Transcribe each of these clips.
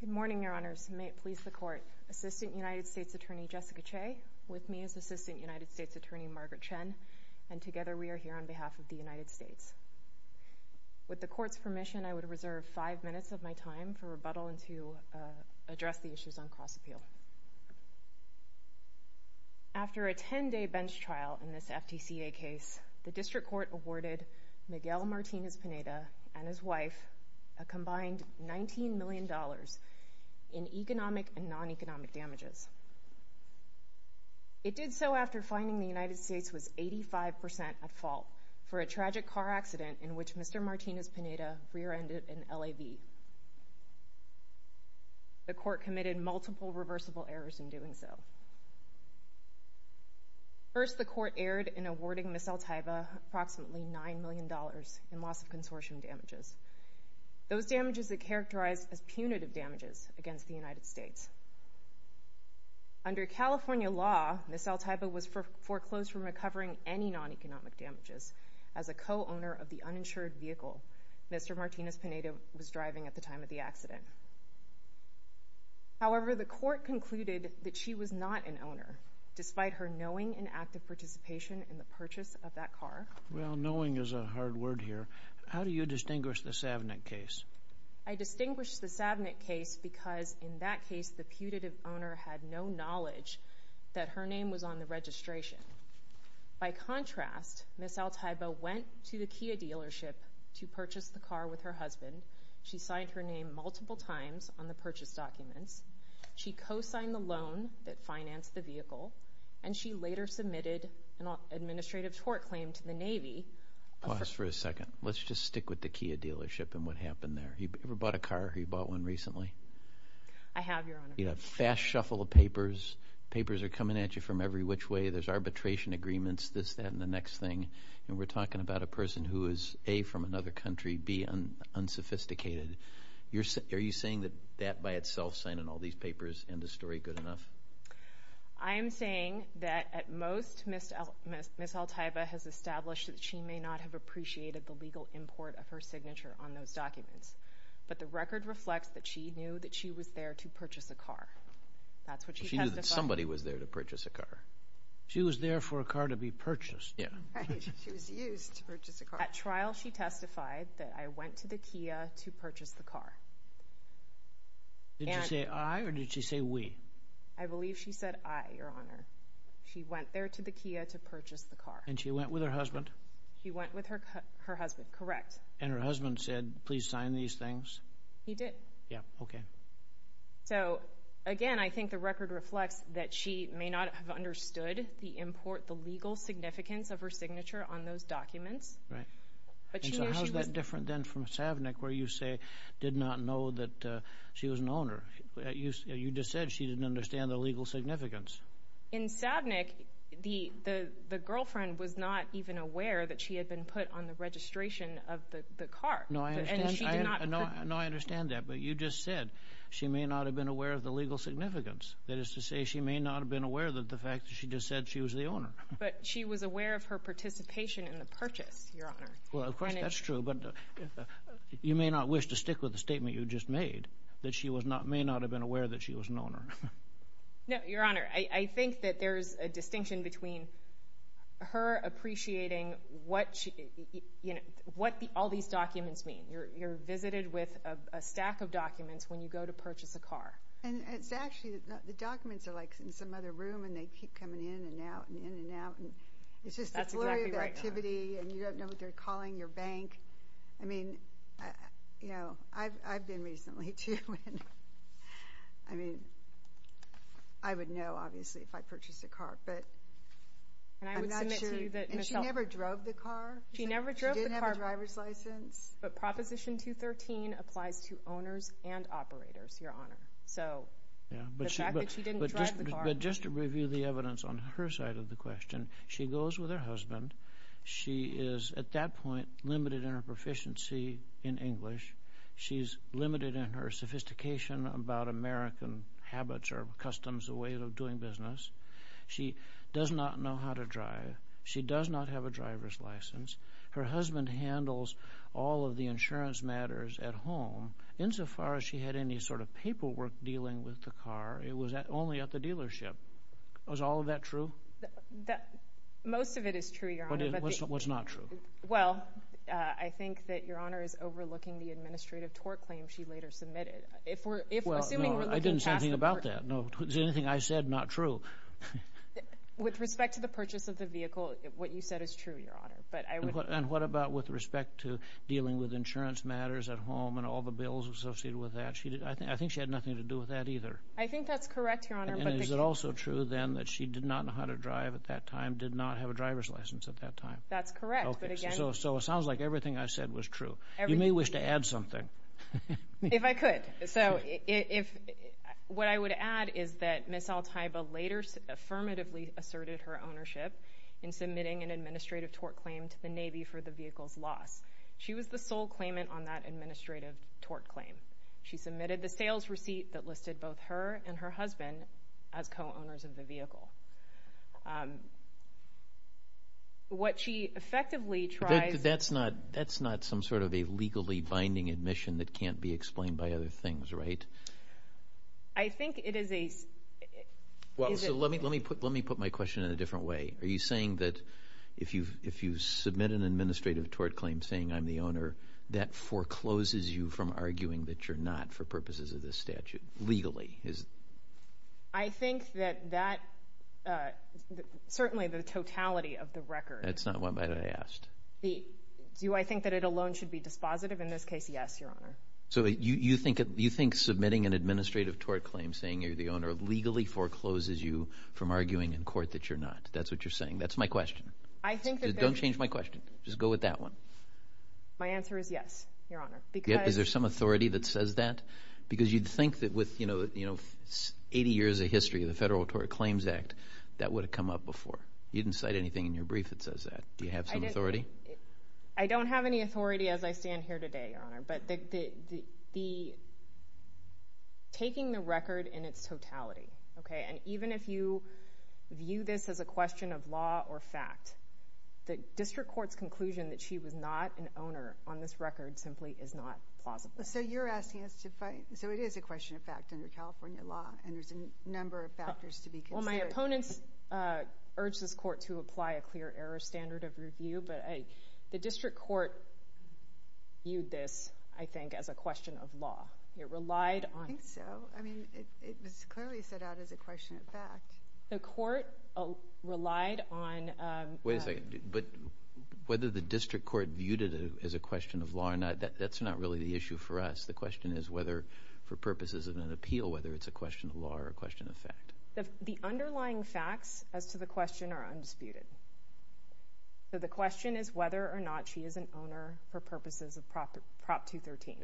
Good morning, Your Honors. May it please the Court, Assistant United States Attorney Jessica Che, with me is Assistant United States Attorney Margaret Chen, and together we are here on behalf of the United States. With the Court's permission, I would reserve five minutes of my time for rebuttal and to address the issues on class appeal. After a 10-day bench trial in this FTCA case, the District Court awarded Miguel Martinez-Pineda and his wife a combined $19 million in economic and non-economic damages. It did so after finding the United States was 85% at fault for a tragic car accident in which Mr. Martinez-Pineda rear-ended an LAV. The Court committed multiple reversible errors in doing so. First, the Court erred in awarding Ms. Altaiva approximately $9 million in loss of consortium damages, those damages that characterized as punitive damages against the United States. Under California law, Ms. Altaiva was foreclosed from recovering any non-economic damages as a co-owner of the uninsured vehicle Mr. Martinez-Pineda was driving at the time of the accident. However, the Court concluded that she was not an owner, despite her knowing and active participation in the purchase of that car. Well, knowing is a hard word here. How do you distinguish the Savnick case? I distinguish the Savnick case because in that case the putative owner had no knowledge that her name was on the registration. By contrast, Ms. Altaiva went to the Kia dealership to purchase the car with her husband. She signed her name multiple times on the purchase documents. She co-signed the loan that financed the vehicle, and she later submitted an administrative tort claim to the Navy. Pause for a second. Let's just stick with the Kia dealership and what happened there. Have you ever bought a car? Have you bought one recently? I have, Your Honor. You have a fast shuffle of papers. Papers are coming at you from every which way. There's arbitration agreements, this, that, and the next thing. And we're talking about a person who is, A, from another country, B, unsophisticated. Are you saying that that by itself, signing all these papers, ends the story good enough? I am saying that, at most, Ms. Altaiva has established that she may not have appreciated the legal import of her signature on those documents. But the record reflects that she knew that she was there to purchase a car. That's what she testified. She knew that somebody was there to purchase a car. She was there for a car to be purchased. Yeah. She was used to purchase a car. At trial, she testified that, I went to the Kia to purchase the car. Did she say, I, or did she say, we? I believe she said, I, Your Honor. She went there to the Kia to purchase the car. And she went with her husband? She went with her husband, correct. And her husband said, please sign these things? He did. Yeah, okay. So, again, I think the record reflects that she may not have understood the import, the legal significance of her signature on those documents. Right. And so how is that different than from Savnik, where you say, did not know that she was an owner? You just said she didn't understand the legal significance. In Savnik, the girlfriend was not even aware that she had been put on the registration of the car. No, I understand that, but you just said she may not have been aware of the legal significance. That is to say, she may not have been aware of the fact that she just said she was the owner. But she was aware of her participation in the purchase, Your Honor. Well, of course, that's true. You may not wish to stick with the statement you just made, that she may not have been aware that she was an owner. No, Your Honor, I think that there's a distinction between her appreciating what all these documents mean. You're visited with a stack of documents when you go to purchase a car. And it's actually, the documents are like in some other room, and they keep coming in and out and in and out. It's just a flurry of activity, and you don't know what they're calling your bank. I mean, you know, I've been recently, too. I mean, I would know, obviously, if I purchased a car, but I'm not sure. And she never drove the car. She never drove the car. She did have a driver's license. But Proposition 213 applies to owners and operators, Your Honor. So the fact that she didn't drive the car. But just to review the evidence on her side of the question, she goes with her husband. She is, at that point, limited in her proficiency in English. She's limited in her sophistication about American habits or customs, the way of doing business. She does not know how to drive. She does not have a driver's license. Her husband handles all of the insurance matters at home. Insofar as she had any sort of paperwork dealing with the car, it was only at the dealership. Was all of that true? Most of it is true, Your Honor. What's not true? Well, I think that Your Honor is overlooking the administrative tort claim she later submitted. Well, no, I didn't say anything about that. If there's anything I said, not true. With respect to the purchase of the vehicle, what you said is true, Your Honor. And what about with respect to dealing with insurance matters at home and all the bills associated with that? I think she had nothing to do with that either. I think that's correct, Your Honor. And is it also true, then, that she did not know how to drive at that time, did not have a driver's license at that time? That's correct. So it sounds like everything I said was true. You may wish to add something. If I could. So what I would add is that Ms. Altaiba later affirmatively asserted her ownership in submitting an administrative tort claim to the Navy for the vehicle's loss. She was the sole claimant on that administrative tort claim. She submitted the sales receipt that listed both her and her husband as co-owners of the vehicle. What she effectively tried to do was to get the vehicle back to the Navy. I think it is a – Well, so let me put my question in a different way. Are you saying that if you submit an administrative tort claim saying I'm the owner, that forecloses you from arguing that you're not for purposes of this statute legally? I think that that – certainly the totality of the record. That's not what I asked. Do I think that it alone should be dispositive? In this case, yes, Your Honor. So you think submitting an administrative tort claim saying you're the owner legally forecloses you from arguing in court that you're not. That's what you're saying. That's my question. Don't change my question. Just go with that one. My answer is yes, Your Honor. Is there some authority that says that? Because you'd think that with 80 years of history of the Federal Tort Claims Act, that would have come up before. You didn't cite anything in your brief that says that. Do you have some authority? I don't have any authority as I stand here today, Your Honor. But taking the record in its totality, okay, and even if you view this as a question of law or fact, the district court's conclusion that she was not an owner on this record simply is not plausible. So you're asking us to fight. So it is a question of fact under California law, and there's a number of factors to be considered. The district court viewed this, I think, as a question of law. It relied on it. I think so. I mean, it was clearly set out as a question of fact. The court relied on the fact. Wait a second. But whether the district court viewed it as a question of law or not, that's not really the issue for us. The question is whether for purposes of an appeal, whether it's a question of law or a question of fact. The underlying facts as to the question are undisputed. So the question is whether or not she is an owner for purposes of Prop 213.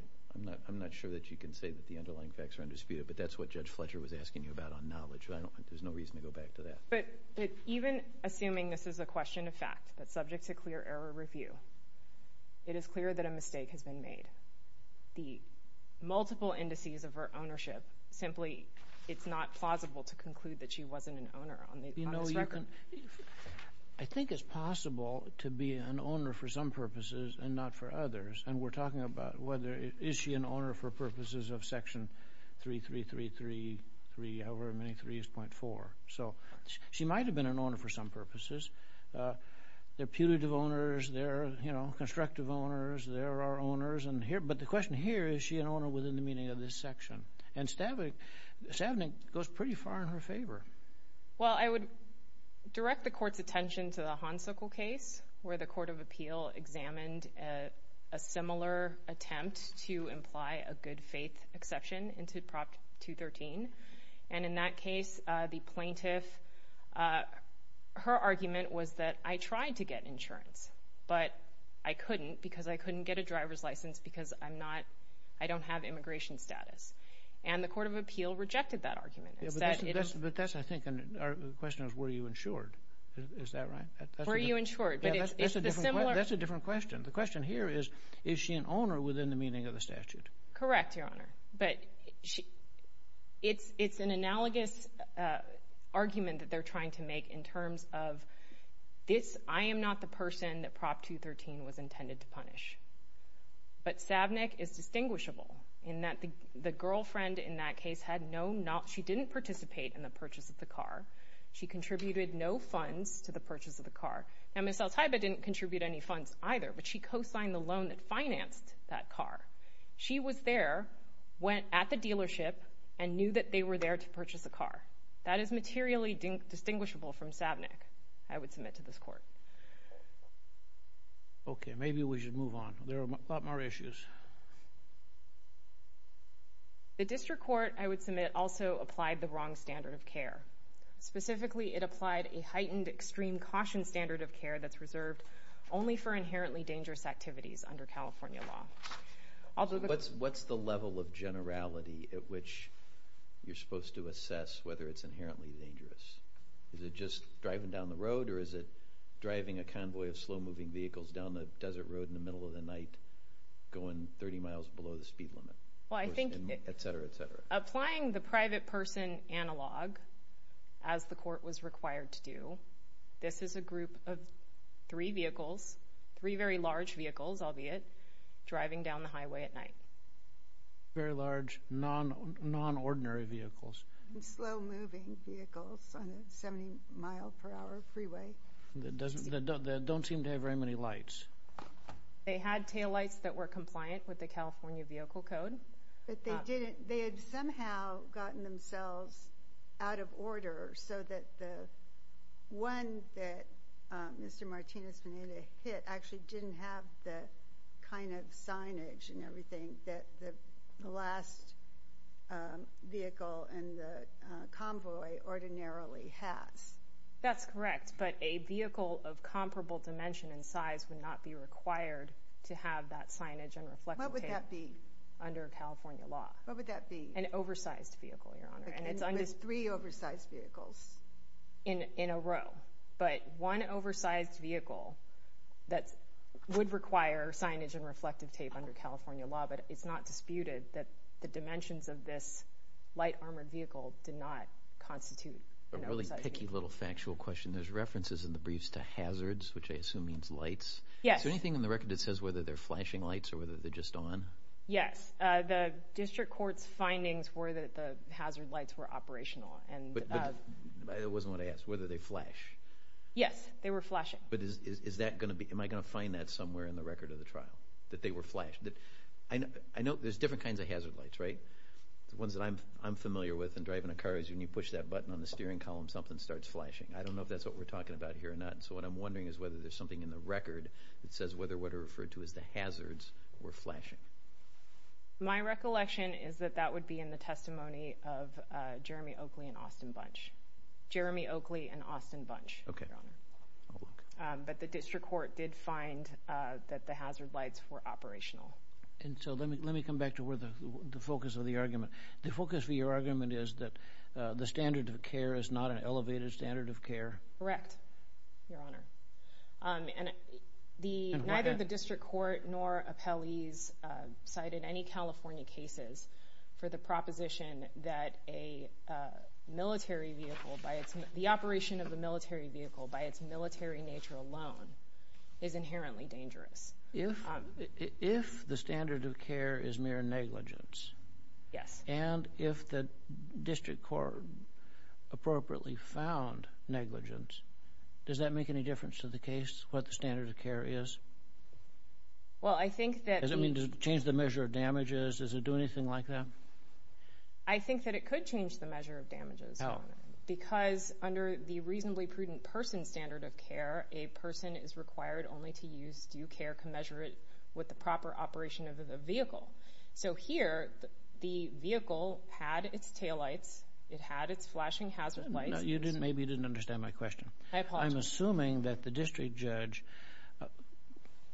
I'm not sure that you can say that the underlying facts are undisputed, but that's what Judge Fletcher was asking you about on knowledge. There's no reason to go back to that. But even assuming this is a question of fact, that's subject to clear error review, it is clear that a mistake has been made. The multiple indices of her ownership, simply it's not plausible to conclude that she wasn't an owner on this record. I think it's possible to be an owner for some purposes and not for others. And we're talking about whether is she an owner for purposes of Section 3333, however many 3s point 4. So she might have been an owner for some purposes. They're punitive owners. They're constructive owners. They're our owners. But the question here, is she an owner within the meaning of this section? And Stavnik goes pretty far in her favor. Well, I would direct the Court's attention to the Honsicle case where the Court of Appeal examined a similar attempt to imply a good faith exception into Prop 213. And in that case, the plaintiff, her argument was that I tried to get insurance, but I couldn't because I couldn't get a driver's license because I don't have immigration status. And the Court of Appeal rejected that argument. But that's, I think, our question is were you insured. Is that right? Were you insured? That's a different question. The question here is, is she an owner within the meaning of the statute? Correct, Your Honor. But it's an analogous argument that they're trying to make in terms of this, I am not the person that Prop 213 was intended to punish. But Stavnik is distinguishable in that the girlfriend in that case had no, she didn't participate in the purchase of the car. She contributed no funds to the purchase of the car. Now, Ms. Altaiba didn't contribute any funds either, but she co-signed the loan that financed that car. She was there, went at the dealership, and knew that they were there to purchase a car. That is materially distinguishable from Stavnik, I would submit to this Court. Okay, maybe we should move on. There are a lot more issues. The district court, I would submit, also applied the wrong standard of care. Specifically, it applied a heightened extreme caution standard of care that's reserved only for inherently dangerous activities under California law. What's the level of generality at which you're supposed to assess whether it's inherently dangerous? Is it just driving down the road, or is it driving a convoy of slow-moving vehicles down the desert road in the middle of the night going 30 miles below the speed limit, etc., etc.? Applying the private person analog, as the Court was required to do, this is a group of three vehicles, three very large vehicles, albeit, driving down the highway at night. Very large, non-ordinary vehicles. Slow-moving vehicles on a 70-mile-per-hour freeway. They don't seem to have very many lights. They had taillights that were compliant with the California Vehicle Code. But they had somehow gotten themselves out of order so that the one that Mr. Martinez-Menina hit actually didn't have the kind of signage and everything that the last vehicle in the convoy ordinarily has. That's correct. But a vehicle of comparable dimension and size would not be required to have that signage and reflective tape under California law. What would that be? An oversized vehicle, Your Honor. With three oversized vehicles? In a row. But one oversized vehicle that would require signage and reflective tape under California law, but it's not disputed that the dimensions of this light-armored vehicle did not constitute an oversized vehicle. A really picky little factual question. There's references in the briefs to hazards, which I assume means lights. Yes. Is there anything in the record that says whether they're flashing lights or whether they're just on? Yes. The district court's findings were that the hazard lights were operational. But it wasn't what I asked, whether they flash. Yes, they were flashing. Am I going to find that somewhere in the record of the trial, that they were flashed? I know there's different kinds of hazard lights, right? The ones that I'm familiar with in driving a car is when you push that button on the steering column, something starts flashing. I don't know if that's what we're talking about here or not. What I'm wondering is whether there's something in the record that says whether what are referred to as the hazards were flashing. My recollection is that that would be in the testimony of Jeremy Oakley and Austin Bunch. Jeremy Oakley and Austin Bunch, Your Honor. But the district court did find that the hazard lights were operational. Let me come back to the focus of the argument. The focus of your argument is that the standard of care is not an elevated standard of care? Correct, Your Honor. And neither the district court nor appellees cited any California cases for the proposition that the operation of a military vehicle by its military nature alone is inherently dangerous. If the standard of care is mere negligence? Yes. And if the district court appropriately found negligence, does that make any difference to the case, what the standard of care is? Does it mean to change the measure of damages? Does it do anything like that? I think that it could change the measure of damages, Your Honor, because under the reasonably prudent person standard of care, a person is required only to use due care commensurate with the proper operation of the vehicle. So here the vehicle had its taillights. It had its flashing hazard lights. Maybe you didn't understand my question. I apologize. I'm assuming that the district judge,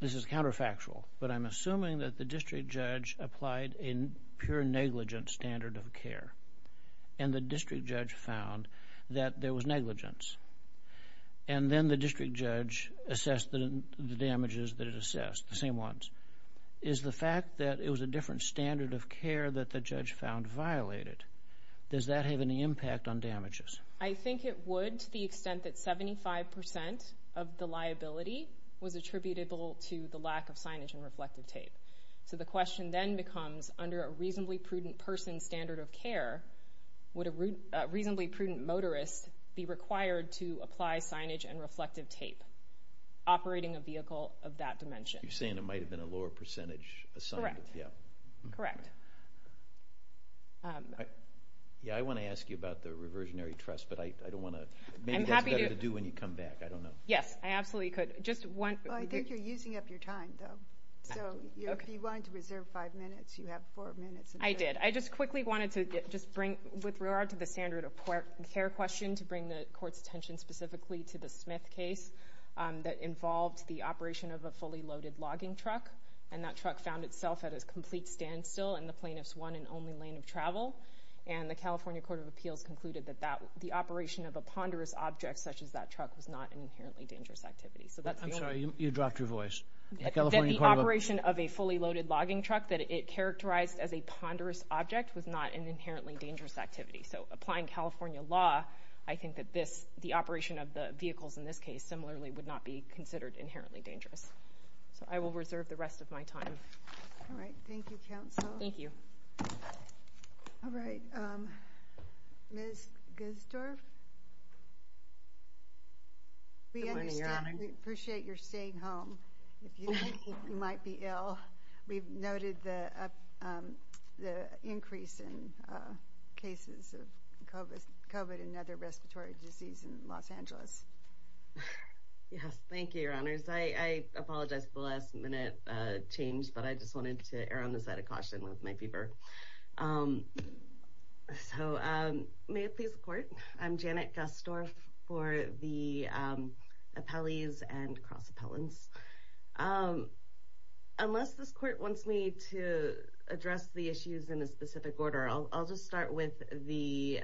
this is counterfactual, but I'm assuming that the district judge applied a pure negligence standard of care and the district judge found that there was negligence and then the district judge assessed the damages that it assessed, the same ones. Is the fact that it was a different standard of care that the judge found violated, does that have any impact on damages? I think it would to the extent that 75% of the liability was attributable to the lack of signage and reflective tape. So the question then becomes, under a reasonably prudent person standard of care, would a reasonably prudent motorist be required to apply signage and reflective tape operating a vehicle of that dimension? You're saying there might have been a lower percentage assigned. Correct. I want to ask you about the reversionary trust, but maybe that's better to do when you come back. Yes, I absolutely could. I think you're using up your time, though. So if you wanted to reserve five minutes, you have four minutes. I did. I just quickly wanted to just bring, with regard to the standard of care question, to bring the Court's attention specifically to the Smith case that involved the operation of a fully loaded logging truck, and that truck found itself at a complete standstill and the plaintiffs won an only lane of travel, and the California Court of Appeals concluded that the operation of a ponderous object such as that truck was not an inherently dangerous activity. I'm sorry, you dropped your voice. The operation of a fully loaded logging truck that it characterized as a ponderous object was not an inherently dangerous activity. So applying California law, I think that the operation of the vehicles in this case similarly would not be considered inherently dangerous. So I will reserve the rest of my time. All right. Thank you, counsel. Thank you. All right. Ms. Guzdorf? Good morning, Your Honor. We appreciate your staying home if you think you might be ill. We've noted the increase in cases of COVID and other respiratory disease in Los Angeles. Yes. Thank you, Your Honors. I apologize for the last-minute change, but I just wanted to err on the side of caution with my fever. So may it please the Court, I'm Janet Guzdorf for the appellees and cross-appellants. Unless this Court wants me to address the issues in a specific order, I'll just start with the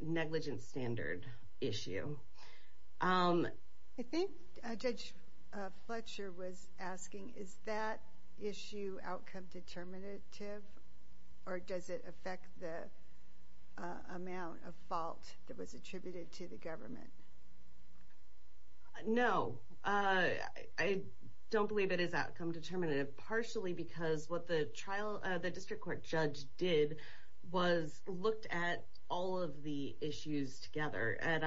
negligence standard issue. I think Judge Fletcher was asking, is that issue outcome determinative or does it affect the amount of fault that was attributed to the government? No. I don't believe it is outcome determinative, partially because what the district court judge did was looked at all of the issues together. At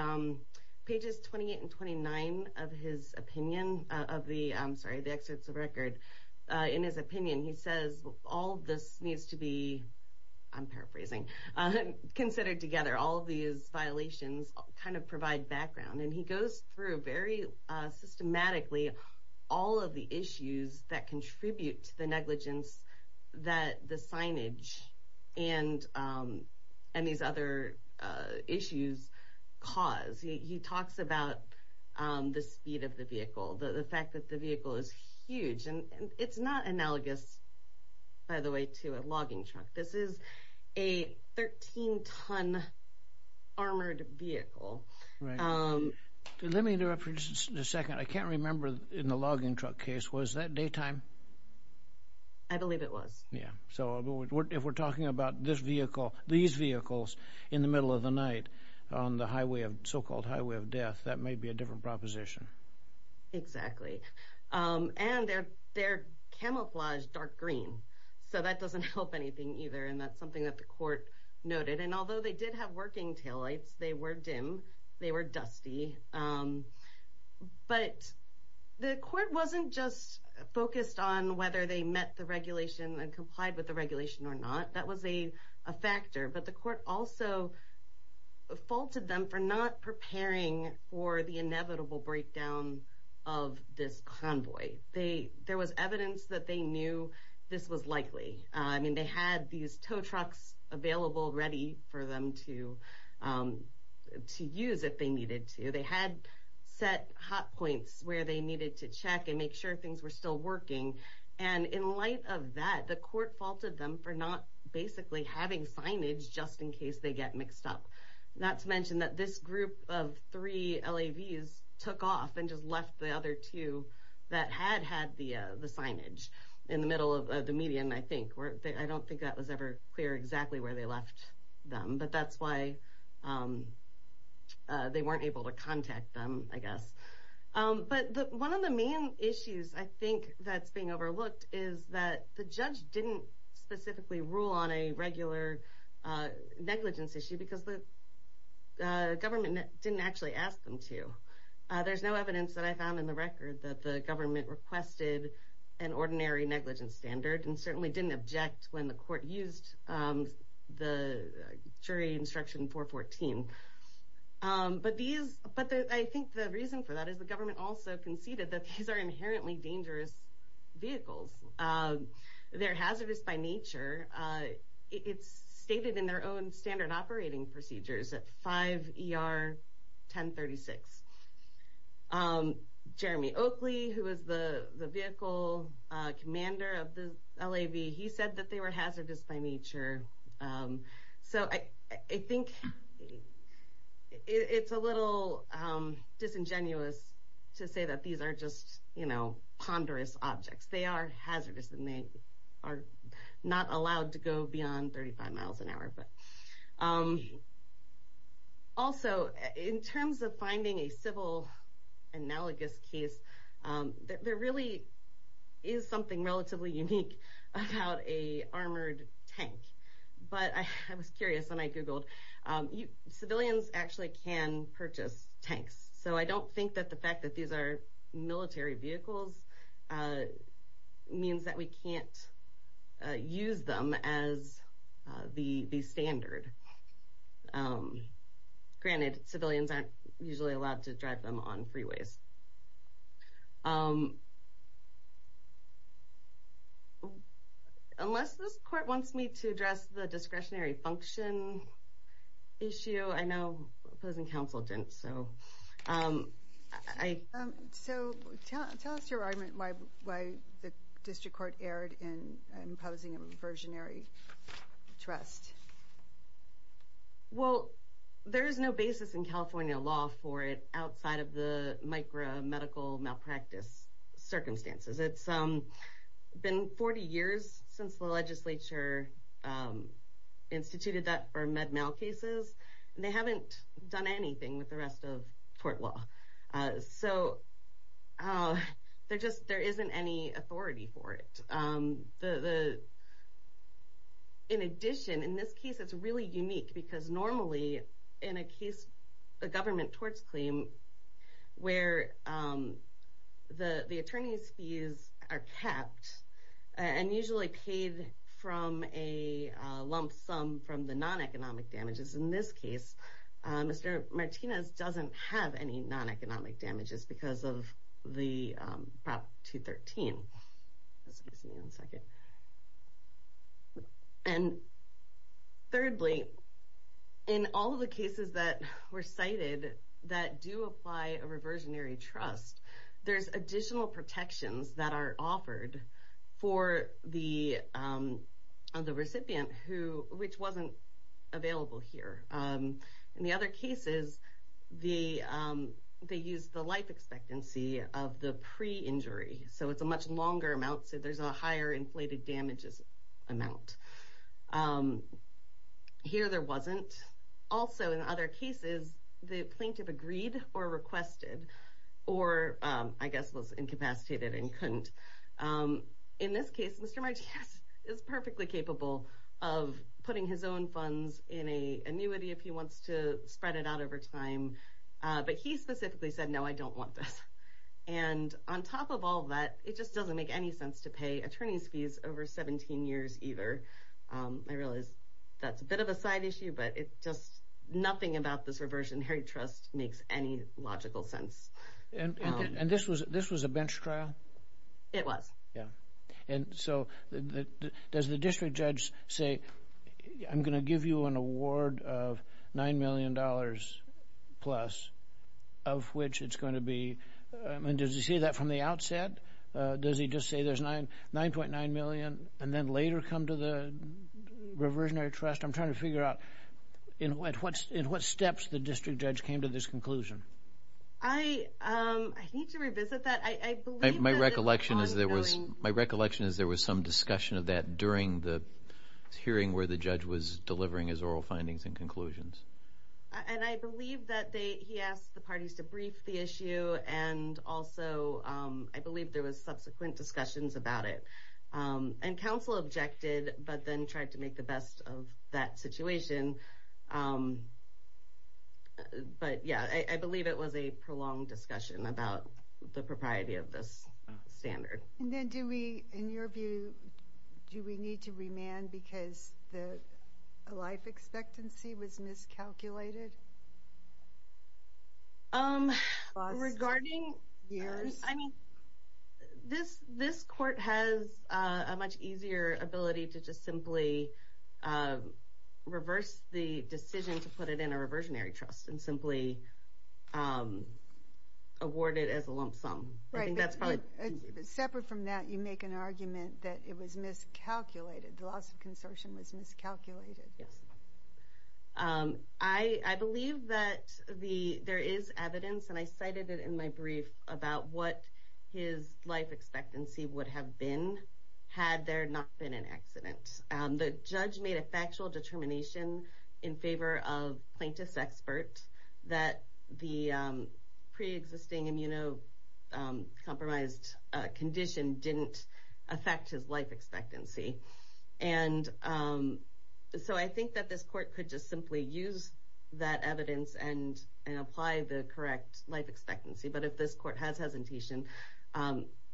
pages 28 and 29 of his opinion, I'm sorry, the excerpts of record, in his opinion he says all of this needs to be, I'm paraphrasing, considered together. All of these violations kind of provide background. And he goes through very systematically all of the issues that contribute to the negligence that the signage and these other issues cause. He talks about the speed of the vehicle, the fact that the vehicle is huge. It's not analogous, by the way, to a logging truck. This is a 13-ton armored vehicle. Let me interrupt for just a second. I can't remember in the logging truck case, was that daytime? I believe it was. If we're talking about this vehicle, these vehicles in the middle of the night on the so-called highway of death, that may be a different proposition. Exactly. And they're camouflaged dark green, so that doesn't help anything either and that's something that the court noted. And although they did have working taillights, they were dim, they were dusty. But the court wasn't just focused on whether they met the regulation and complied with the regulation or not. That was a factor. But the court also faulted them for not preparing for the inevitable breakdown of this convoy. There was evidence that they knew this was likely. I mean, they had these tow trucks available, ready for them to use if they needed to. They had set hot points where they needed to check and make sure things were still working. And in light of that, the court faulted them for not basically having signage just in case they get mixed up. Not to mention that this group of three LAVs took off and just left the other two that had had the signage in the middle of the median, I think. I don't think that was ever clear exactly where they left them. But that's why they weren't able to contact them, I guess. But one of the main issues I think that's being overlooked is that the judge didn't specifically rule on a regular negligence issue because the government didn't actually ask them to. There's no evidence that I found in the record that the government requested an ordinary negligence standard and certainly didn't object when the court used the jury instruction 414. But I think the reason for that is the government also conceded that these are inherently dangerous vehicles. They're hazardous by nature. It's stated in their own standard operating procedures at 5 ER 1036. Jeremy Oakley, who was the vehicle commander of the LAV, he said that they were hazardous by nature. So I think it's a little disingenuous to say that these are just ponderous objects. They are hazardous and they are not allowed to go beyond 35 miles an hour. Also, in terms of finding a civil analogous case, there really is something relatively unique about a armored tank. But I was curious when I Googled. Civilians actually can purchase tanks. So I don't think that the fact that these are military vehicles means that we can't use them as the standard. Granted, civilians aren't usually allowed to drive them on freeways. Unless this court wants me to address the discretionary function issue, I know opposing counsel didn't. So tell us your argument why the district court erred in imposing a versionary trust. Well, there is no basis in California law for it outside of the micromedical malpractice circumstances. It's been 40 years since the legislature instituted that for med mal cases. They haven't done anything with the rest of court law. So there isn't any authority for it. In addition, in this case, it's really unique. Because normally, in a case, a government torts claim, where the attorney's fees are kept and usually paid from a lump sum from the non-economic damages. In this case, Mr. Martinez doesn't have any non-economic damages because of the Prop 213. And thirdly, in all of the cases that were cited that do apply a reversionary trust, there's additional protections that are offered for the recipient, which wasn't available here. In the other cases, they use the life expectancy of the pre-injury. So it's a much longer amount. So there's a higher inflated damages amount. Here, there wasn't. Also, in other cases, the plaintiff agreed or requested or, I guess, was incapacitated and couldn't. In this case, Mr. Martinez is perfectly capable of putting his own funds in an annuity if he wants to spread it out over time. But he specifically said, no, I don't want this. And on top of all that, it just doesn't make any sense to pay attorney's fees over 17 years either. I realize that's a bit of a side issue, but it's just nothing about this reversionary trust makes any logical sense. And this was a bench trial? It was. Yeah. And so does the district judge say, I'm going to give you an award of $9 million plus of which it's going to be? And does he say that from the outset? Does he just say there's $9.9 million and then later come to the reversionary trust? I'm trying to figure out in what steps the district judge came to this conclusion. I need to revisit that. I believe that the ongoing- My recollection is there was some discussion of that during the hearing where the judge was delivering his oral findings and conclusions. And I believe that he asked the parties to brief the issue. And also, I believe there was subsequent discussions about it. And counsel objected, but then tried to make the best of that situation. But yeah, I believe it was a prolonged discussion about the propriety of this standard. And then do we, in your view, do we need to remand because the life expectancy was miscalculated? Regarding- Years. I mean, this court has a much easier ability to just simply reverse the decision to put it in a reversionary trust and simply award it as a lump sum. Right. I think that's probably easier. But separate from that, you make an argument that it was miscalculated. The loss of consortium was miscalculated. Yes. I believe that there is evidence, and I cited it in my brief, about what his life expectancy would have been had there not been an accident. The judge made a factual determination in favor of plaintiff's expert that the preexisting immunocompromised condition didn't affect his life expectancy. And so I think that this court could just simply use that evidence and apply the correct life expectancy. But if this court has hesitation,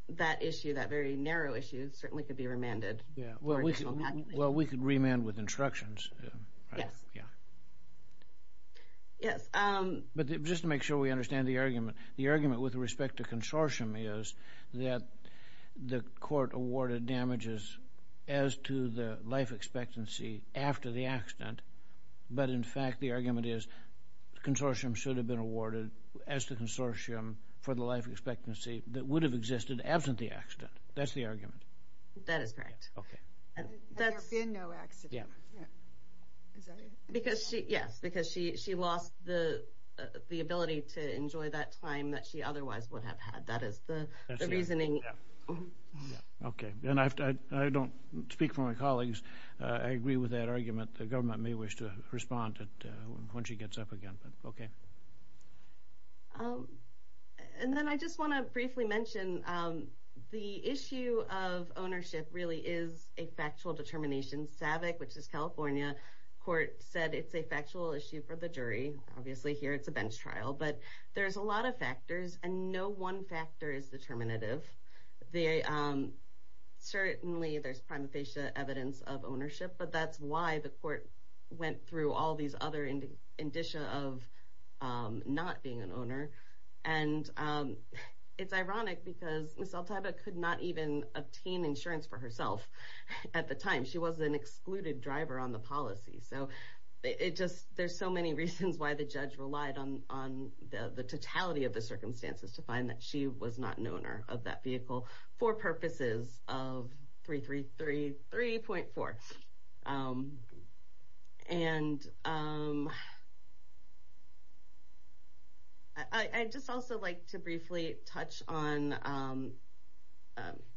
that issue, that very narrow issue, certainly could be remanded. Yeah. Well, we could remand with instructions. Yes. Yeah. Yes. But just to make sure we understand the argument, the argument with respect to consortium is that the court awarded damages as to the life expectancy after the accident. But in fact, the argument is consortium should have been awarded as to consortium for the life expectancy that would have existed absent the accident. That's the argument. That is correct. Okay. Had there been no accident. Yeah. Is that it? Yes, because she lost the ability to enjoy that time that she otherwise would have had. That is the reasoning. That's the argument, yeah. Yeah. Okay. And I don't speak for my colleagues. I agree with that argument. The government may wish to respond when she gets up again, but okay. And then I just want to briefly mention the issue of ownership really is a factual determination. SAVIC, which is California, court said it's a factual issue for the jury. Obviously, here it's a bench trial. But there's a lot of factors and no one factor is determinative. Certainly, there's prima facie evidence of ownership, but that's why the court went through all these other indicia of not being an owner. And it's ironic because Ms. Altayba could not even obtain insurance for herself at the time. She was an excluded driver on the policy. So there's so many reasons why the judge relied on the totality of the circumstances to find that she was not an owner of that vehicle for purposes of 333.4. I'd just also like to briefly touch on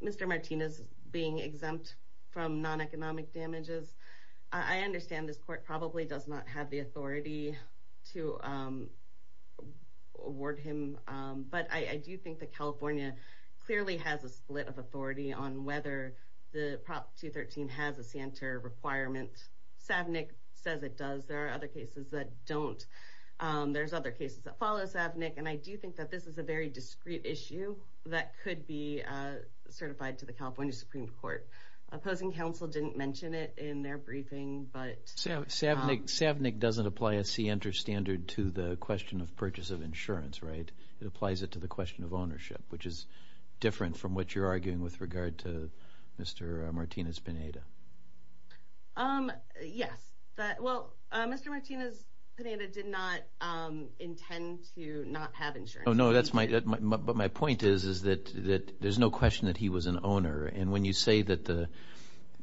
Mr. Martinez being exempt from non-economic damages. I understand this court probably does not have the authority to award him, but I do think that California clearly has a split of authority on whether the Prop 213 has a Santer requirement. SAVNIC says it does. There are other cases that don't. There's other cases that follow SAVNIC, and I do think that this is a very discreet issue that could be certified to the California Supreme Court. Opposing counsel didn't mention it in their briefing, but... ...to the question of purchase of insurance, right? It applies it to the question of ownership, which is different from what you're arguing with regard to Mr. Martinez-Pineda. Yes. Well, Mr. Martinez-Pineda did not intend to not have insurance. Oh, no, that's my... But my point is that there's no question that he was an owner, and when you say that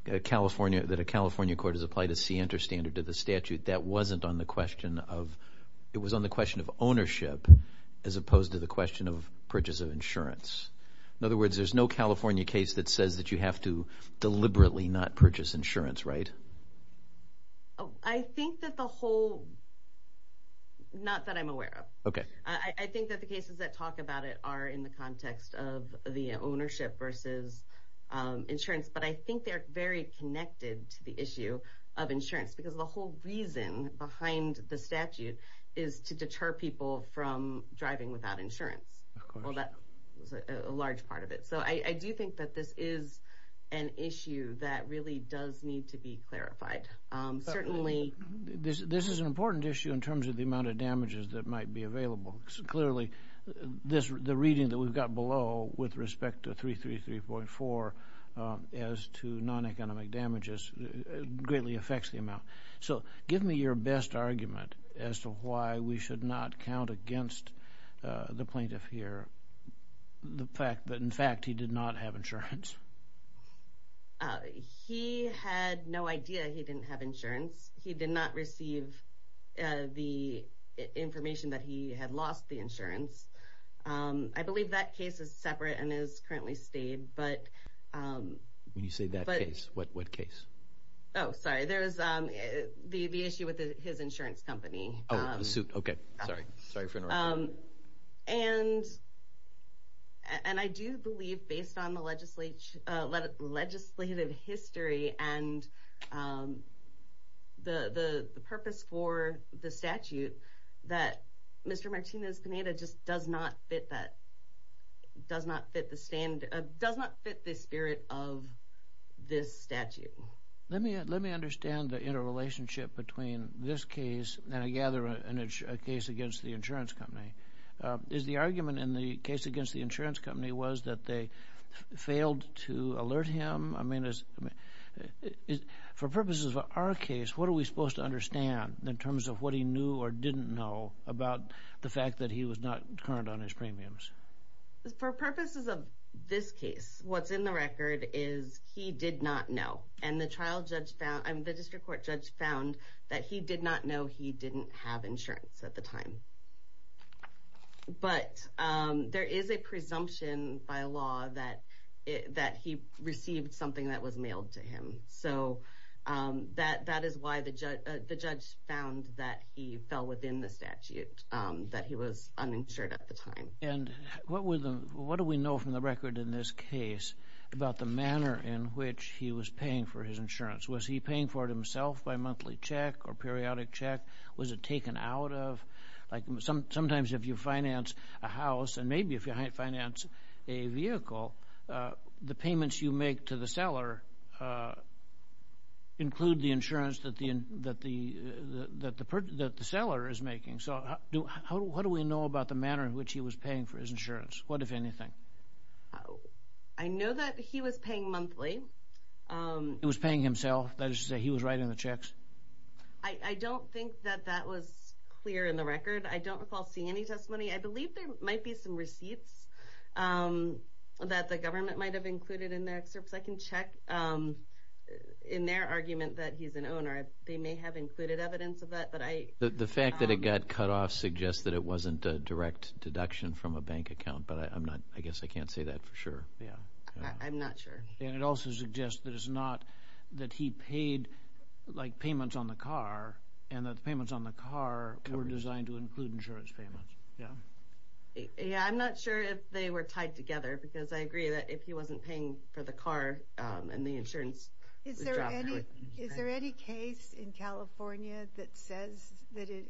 a California court has applied a C-enter standard to the statute, that wasn't on the question of... It was on the question of ownership as opposed to the question of purchase of insurance. In other words, there's no California case that says that you have to deliberately not purchase insurance, right? I think that the whole... Not that I'm aware of. Okay. I think that the cases that talk about it are in the context of the ownership versus insurance, but I think they're very connected to the issue of insurance because the whole reason behind the statute is to deter people from driving without insurance. Of course. Well, that was a large part of it. So I do think that this is an issue that really does need to be clarified. Certainly... This is an important issue in terms of the amount of damages that might be available. Clearly, the reading that we've got below with respect to 333.4 as to non-economic damages greatly affects the amount. So give me your best argument as to why we should not count against the plaintiff here the fact that, in fact, he did not have insurance. He had no idea he didn't have insurance. He did not receive the information that he had lost the insurance. I believe that case is separate and is currently stayed, but... When you say that case, what case? Oh, sorry. There's the issue with his insurance company. Oh, the suit. Okay. Sorry. Sorry for interrupting. And I do believe, based on the legislative history and the purpose for the statute, that Mr. Martinez-Pineda just does not fit that... does not fit the spirit of this statute. Let me understand the interrelationship between this case and, I gather, a case against the insurance company. Is the argument in the case against the insurance company was that they failed to alert him? I mean, for purposes of our case, what are we supposed to understand in terms of what he knew or didn't know about the fact that he was not current on his premiums? For purposes of this case, what's in the record is he did not know. And the district court judge found that he did not know he didn't have insurance at the time. But there is a presumption by law that he received something that was mailed to him. So that is why the judge found that he fell within the statute, that he was uninsured at the time. And what do we know from the record in this case about the manner in which he was paying for his insurance? Was he paying for it himself by monthly check or periodic check? Was it taken out of? Sometimes if you finance a house, and maybe if you finance a vehicle, the payments you make to the seller include the insurance that the seller is making. So what do we know about the manner in which he was paying for his insurance? What, if anything? I know that he was paying monthly. He was paying himself? That is to say he was writing the checks? I don't think that that was clear in the record. I don't recall seeing any testimony. I believe there might be some receipts that the government might have included in their excerpts. I can check in their argument that he's an owner. They may have included evidence of that. The fact that it got cut off suggests that it wasn't a direct deduction from a bank account, but I guess I can't say that for sure. I'm not sure. And it also suggests that it's not that he paid payments on the car, and that the payments on the car were designed to include insurance payments. I'm not sure if they were tied together, because I agree that if he wasn't paying for the car and the insurance, the driver would. Is there any case in California that says that it,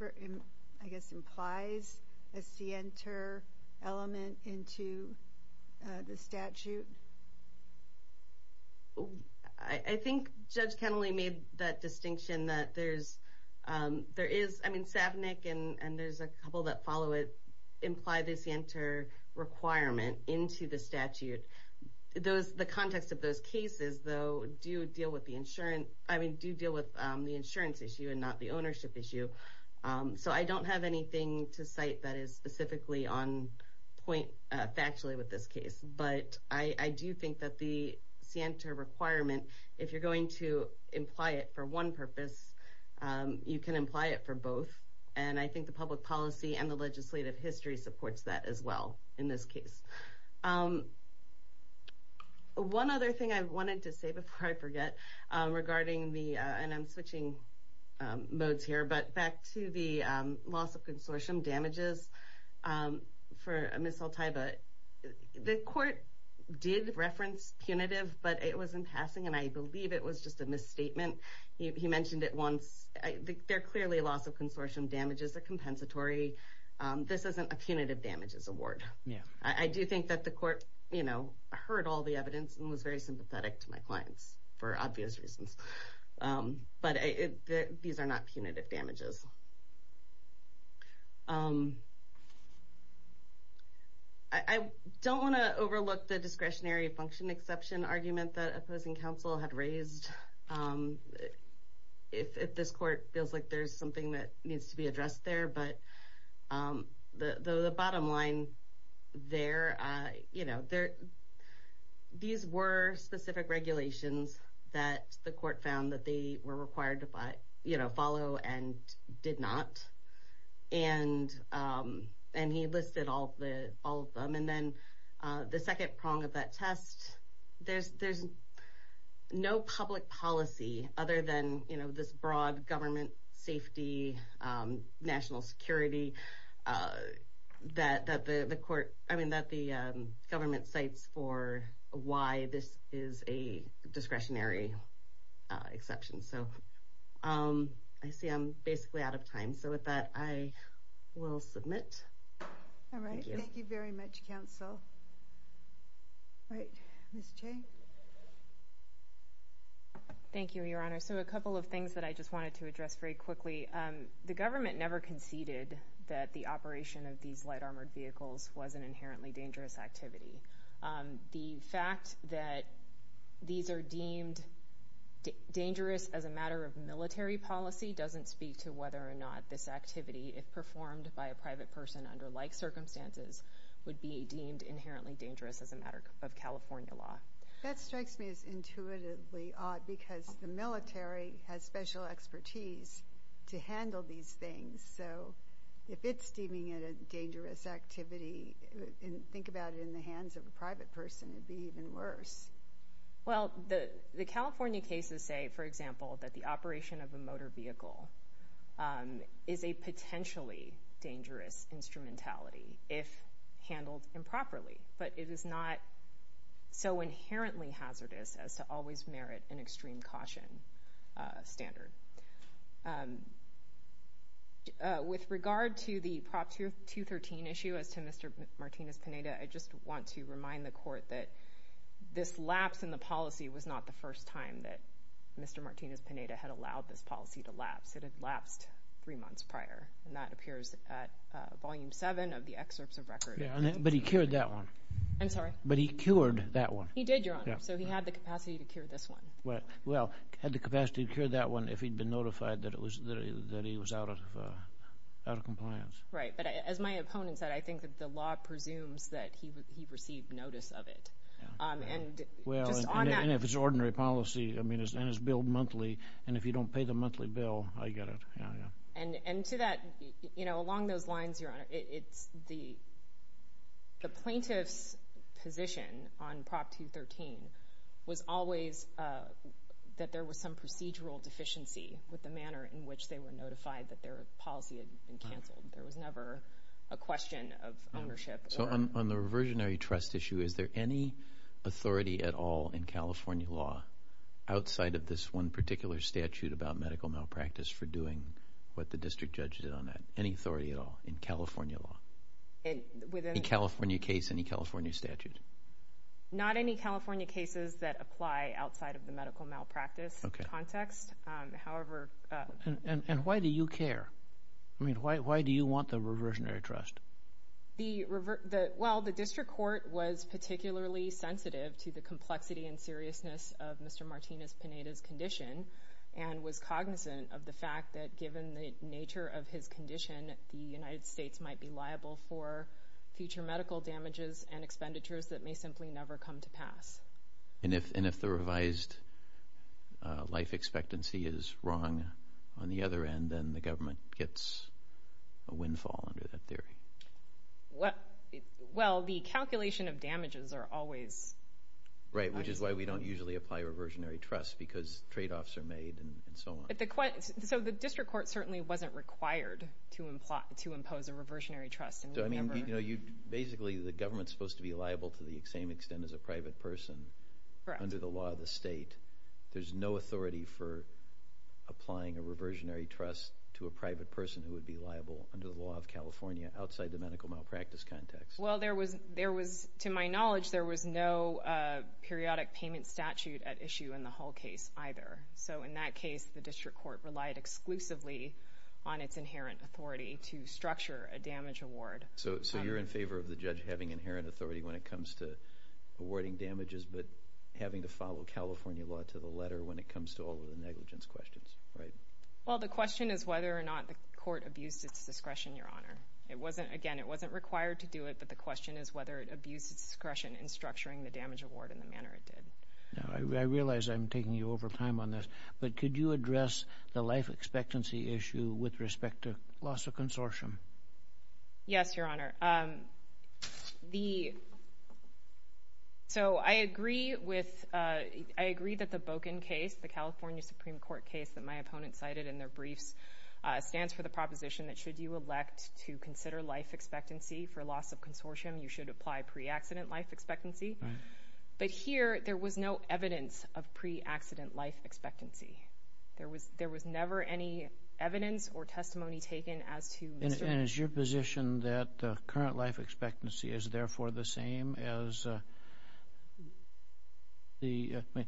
I guess, implies a scienter element into the statute? I think Judge Kennelly made that distinction that there is. I mean, Savnik and there's a couple that follow it imply the scienter requirement into the statute. The context of those cases, though, do deal with the insurance issue and not the ownership issue. So I don't have anything to cite that is specifically on point factually with this case. But I do think that the scienter requirement, if you're going to imply it for one purpose, you can imply it for both. And I think the public policy and the legislative history supports that as well in this case. One other thing I wanted to say before I forget regarding the, and I'm switching modes here, but back to the loss of consortium damages for Ms. Altaiba. The court did reference punitive, but it was in passing, and I believe it was just a misstatement. He mentioned it once. They're clearly loss of consortium damages, a compensatory. This isn't a punitive damages award. I do think that the court heard all the evidence and was very sympathetic to my clients for obvious reasons. But these are not punitive damages. I don't want to overlook the discretionary function exception argument that opposing counsel had raised. If this court feels like there's something that needs to be addressed there, but the bottom line there, these were specific regulations that the court found that they were required to follow and did not. And he listed all of them. And then the second prong of that test, there's no public policy other than this broad government safety, national security, that the government cites for why this is a discretionary exception. So I see I'm basically out of time. So with that, I will submit. All right, thank you very much, counsel. All right, Ms. Chang. Thank you, Your Honor. So a couple of things that I just wanted to address very quickly. The government never conceded that the operation of these light armored vehicles was an inherently dangerous activity. The fact that these are deemed dangerous as a matter of military policy doesn't speak to whether or not this activity, if performed by a private person under like circumstances, would be deemed inherently dangerous as a matter of California law. That strikes me as intuitively odd because the military has special expertise to handle these things. So if it's deeming it a dangerous activity, think about it in the hands of a private person, it would be even worse. Well, the California cases say, for example, that the operation of a motor vehicle is a potentially dangerous instrumentality if handled improperly. But it is not so inherently hazardous as to always merit an extreme caution standard. With regard to the Prop 213 issue as to Mr. Martinez-Pineda, I just want to remind the Court that this lapse in the policy was not the first time that Mr. Martinez-Pineda had allowed this policy to lapse. It had lapsed three months prior, and that appears at Volume 7 of the Excerpts of Record. Yeah, but he cured that one. I'm sorry? But he cured that one. He did, Your Honor, so he had the capacity to cure this one. Well, he had the capacity to cure that one if he'd been notified that he was out of compliance. Right, but as my opponent said, I think that the law presumes that he received notice of it. And if it's ordinary policy and it's billed monthly, and if you don't pay the monthly bill, I get it. And to that, along those lines, Your Honor, the plaintiff's position on Prop 213 was always that there was some procedural deficiency with the manner in which they were notified that their policy had been canceled. There was never a question of ownership. So on the reversionary trust issue, is there any authority at all in California law, outside of this one particular statute about medical malpractice for doing what the district judge did on that, any authority at all in California law? In any California case, any California statute? Not any California cases that apply outside of the medical malpractice context. And why do you care? I mean, why do you want the reversionary trust? Well, the district court was particularly sensitive to the complexity and seriousness of Mr. Martinez-Pineda's condition and was cognizant of the fact that given the nature of his condition, the United States might be liable for future medical damages and expenditures that may simply never come to pass. And if the revised life expectancy is wrong on the other end, then the government gets a windfall under that theory? Well, the calculation of damages are always... Right, which is why we don't usually apply reversionary trust, because tradeoffs are made and so on. So the district court certainly wasn't required to impose a reversionary trust. Basically, the government's supposed to be liable to the same extent as a private person under the law of the state. There's no authority for applying a reversionary trust to a private person who would be liable under the law of California outside the medical malpractice context. Well, to my knowledge, there was no periodic payment statute at issue in the Hull case either. So in that case, the district court relied exclusively on its inherent authority to structure a damage award. So you're in favor of the judge having inherent authority when it comes to awarding damages, but having to follow California law to the letter when it comes to all of the negligence questions, right? Well, the question is whether or not the court abused its discretion, Your Honor. Again, it wasn't required to do it, but the question is whether it abused its discretion in structuring the damage award in the manner it did. Now, I realize I'm taking you over time on this, but could you address the life expectancy issue with respect to loss of consortium? Yes, Your Honor. So I agree that the Boken case, the California Supreme Court case that my opponent cited in their briefs, stands for the proposition that should you elect to consider life expectancy for loss of consortium, you should apply pre-accident life expectancy. But here, there was no evidence of pre-accident life expectancy. There was never any evidence or testimony taken as to... And is your position that the current life expectancy is therefore the same as the... I mean,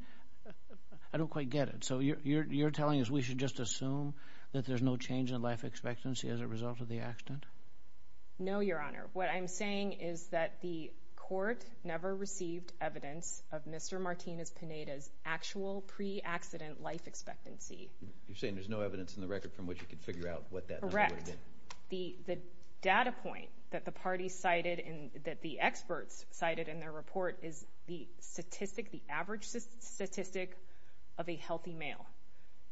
I don't quite get it. So you're telling us we should just assume that there's no change in life expectancy as a result of the accident? No, Your Honor. What I'm saying is that the court never received evidence of Mr. Martinez-Pineda's actual pre-accident life expectancy. You're saying there's no evidence in the record from which you could figure out what that number would be? Correct. The data point that the party cited and that the experts cited in their report is the average statistic of a healthy male.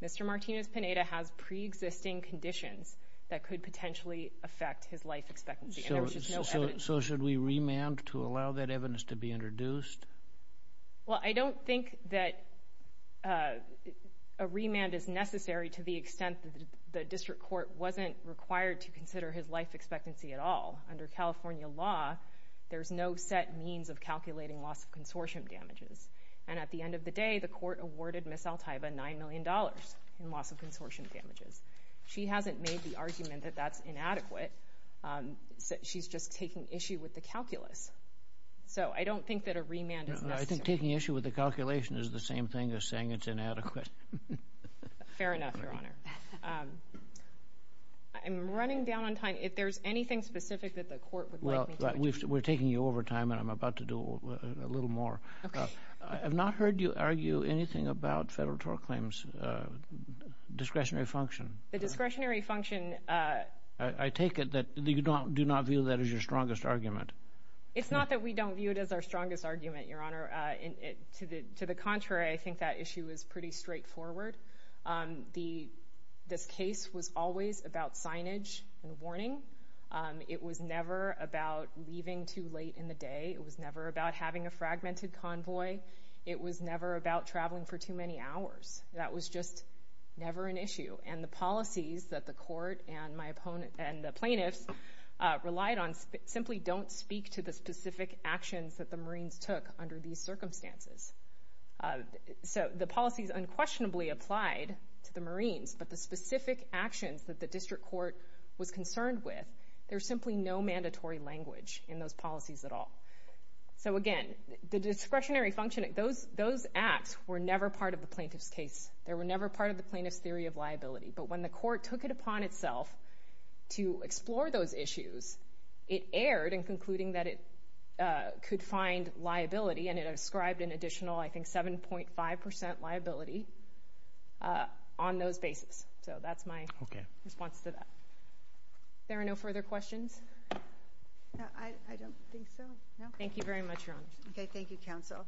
Mr. Martinez-Pineda has pre-existing conditions that could potentially affect his life expectancy. So should we remand to allow that evidence to be introduced? Well, I don't think that a remand is necessary to the extent that the district court wasn't required to consider his life expectancy at all. Under California law, there's no set means of calculating loss of consortium damages. And at the end of the day, the court awarded Ms. Altaiba $9 million in loss of consortium damages. She hasn't made the argument that that's inadequate. She's just taking issue with the calculus. So I don't think that a remand is necessary. I think taking issue with the calculation is the same thing as saying it's inadequate. Fair enough, Your Honor. I'm running down on time. If there's anything specific that the court would like me to... Well, we're taking you over time, and I'm about to do a little more. Okay. I've not heard you argue anything about federal tort claims' discretionary function. The discretionary function... I take it that you do not view that as your strongest argument. It's not that we don't view it as our strongest argument, Your Honor. To the contrary, I think that issue is pretty straightforward. This case was always about signage and warning. It was never about leaving too late in the day. It was never about having a fragmented convoy. It was never about traveling for too many hours. That was just never an issue. And the policies that the court and the plaintiffs relied on simply don't speak to the specific actions that the Marines took under these circumstances. So the policies unquestionably applied to the Marines, but the specific actions that the district court was concerned with, there's simply no mandatory language in those policies at all. So again, the discretionary function... Those acts were never part of the plaintiff's case. They were never part of the plaintiff's theory of liability. But when the court took it upon itself to explore those issues, it erred in concluding that it could find liability, and it ascribed an additional, I think, 7.5% liability on those bases. So that's my response to that. There are no further questions? I don't think so. Thank you very much, Your Honor. Okay, thank you, counsel.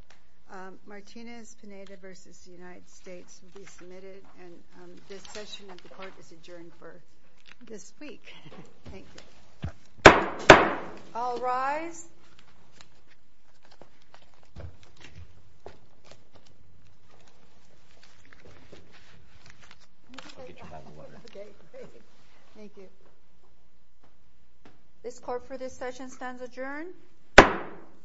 Martinez-Pineda v. United States will be submitted. And this session of the court is adjourned for this week. Thank you. All rise. This court for this session stands adjourned.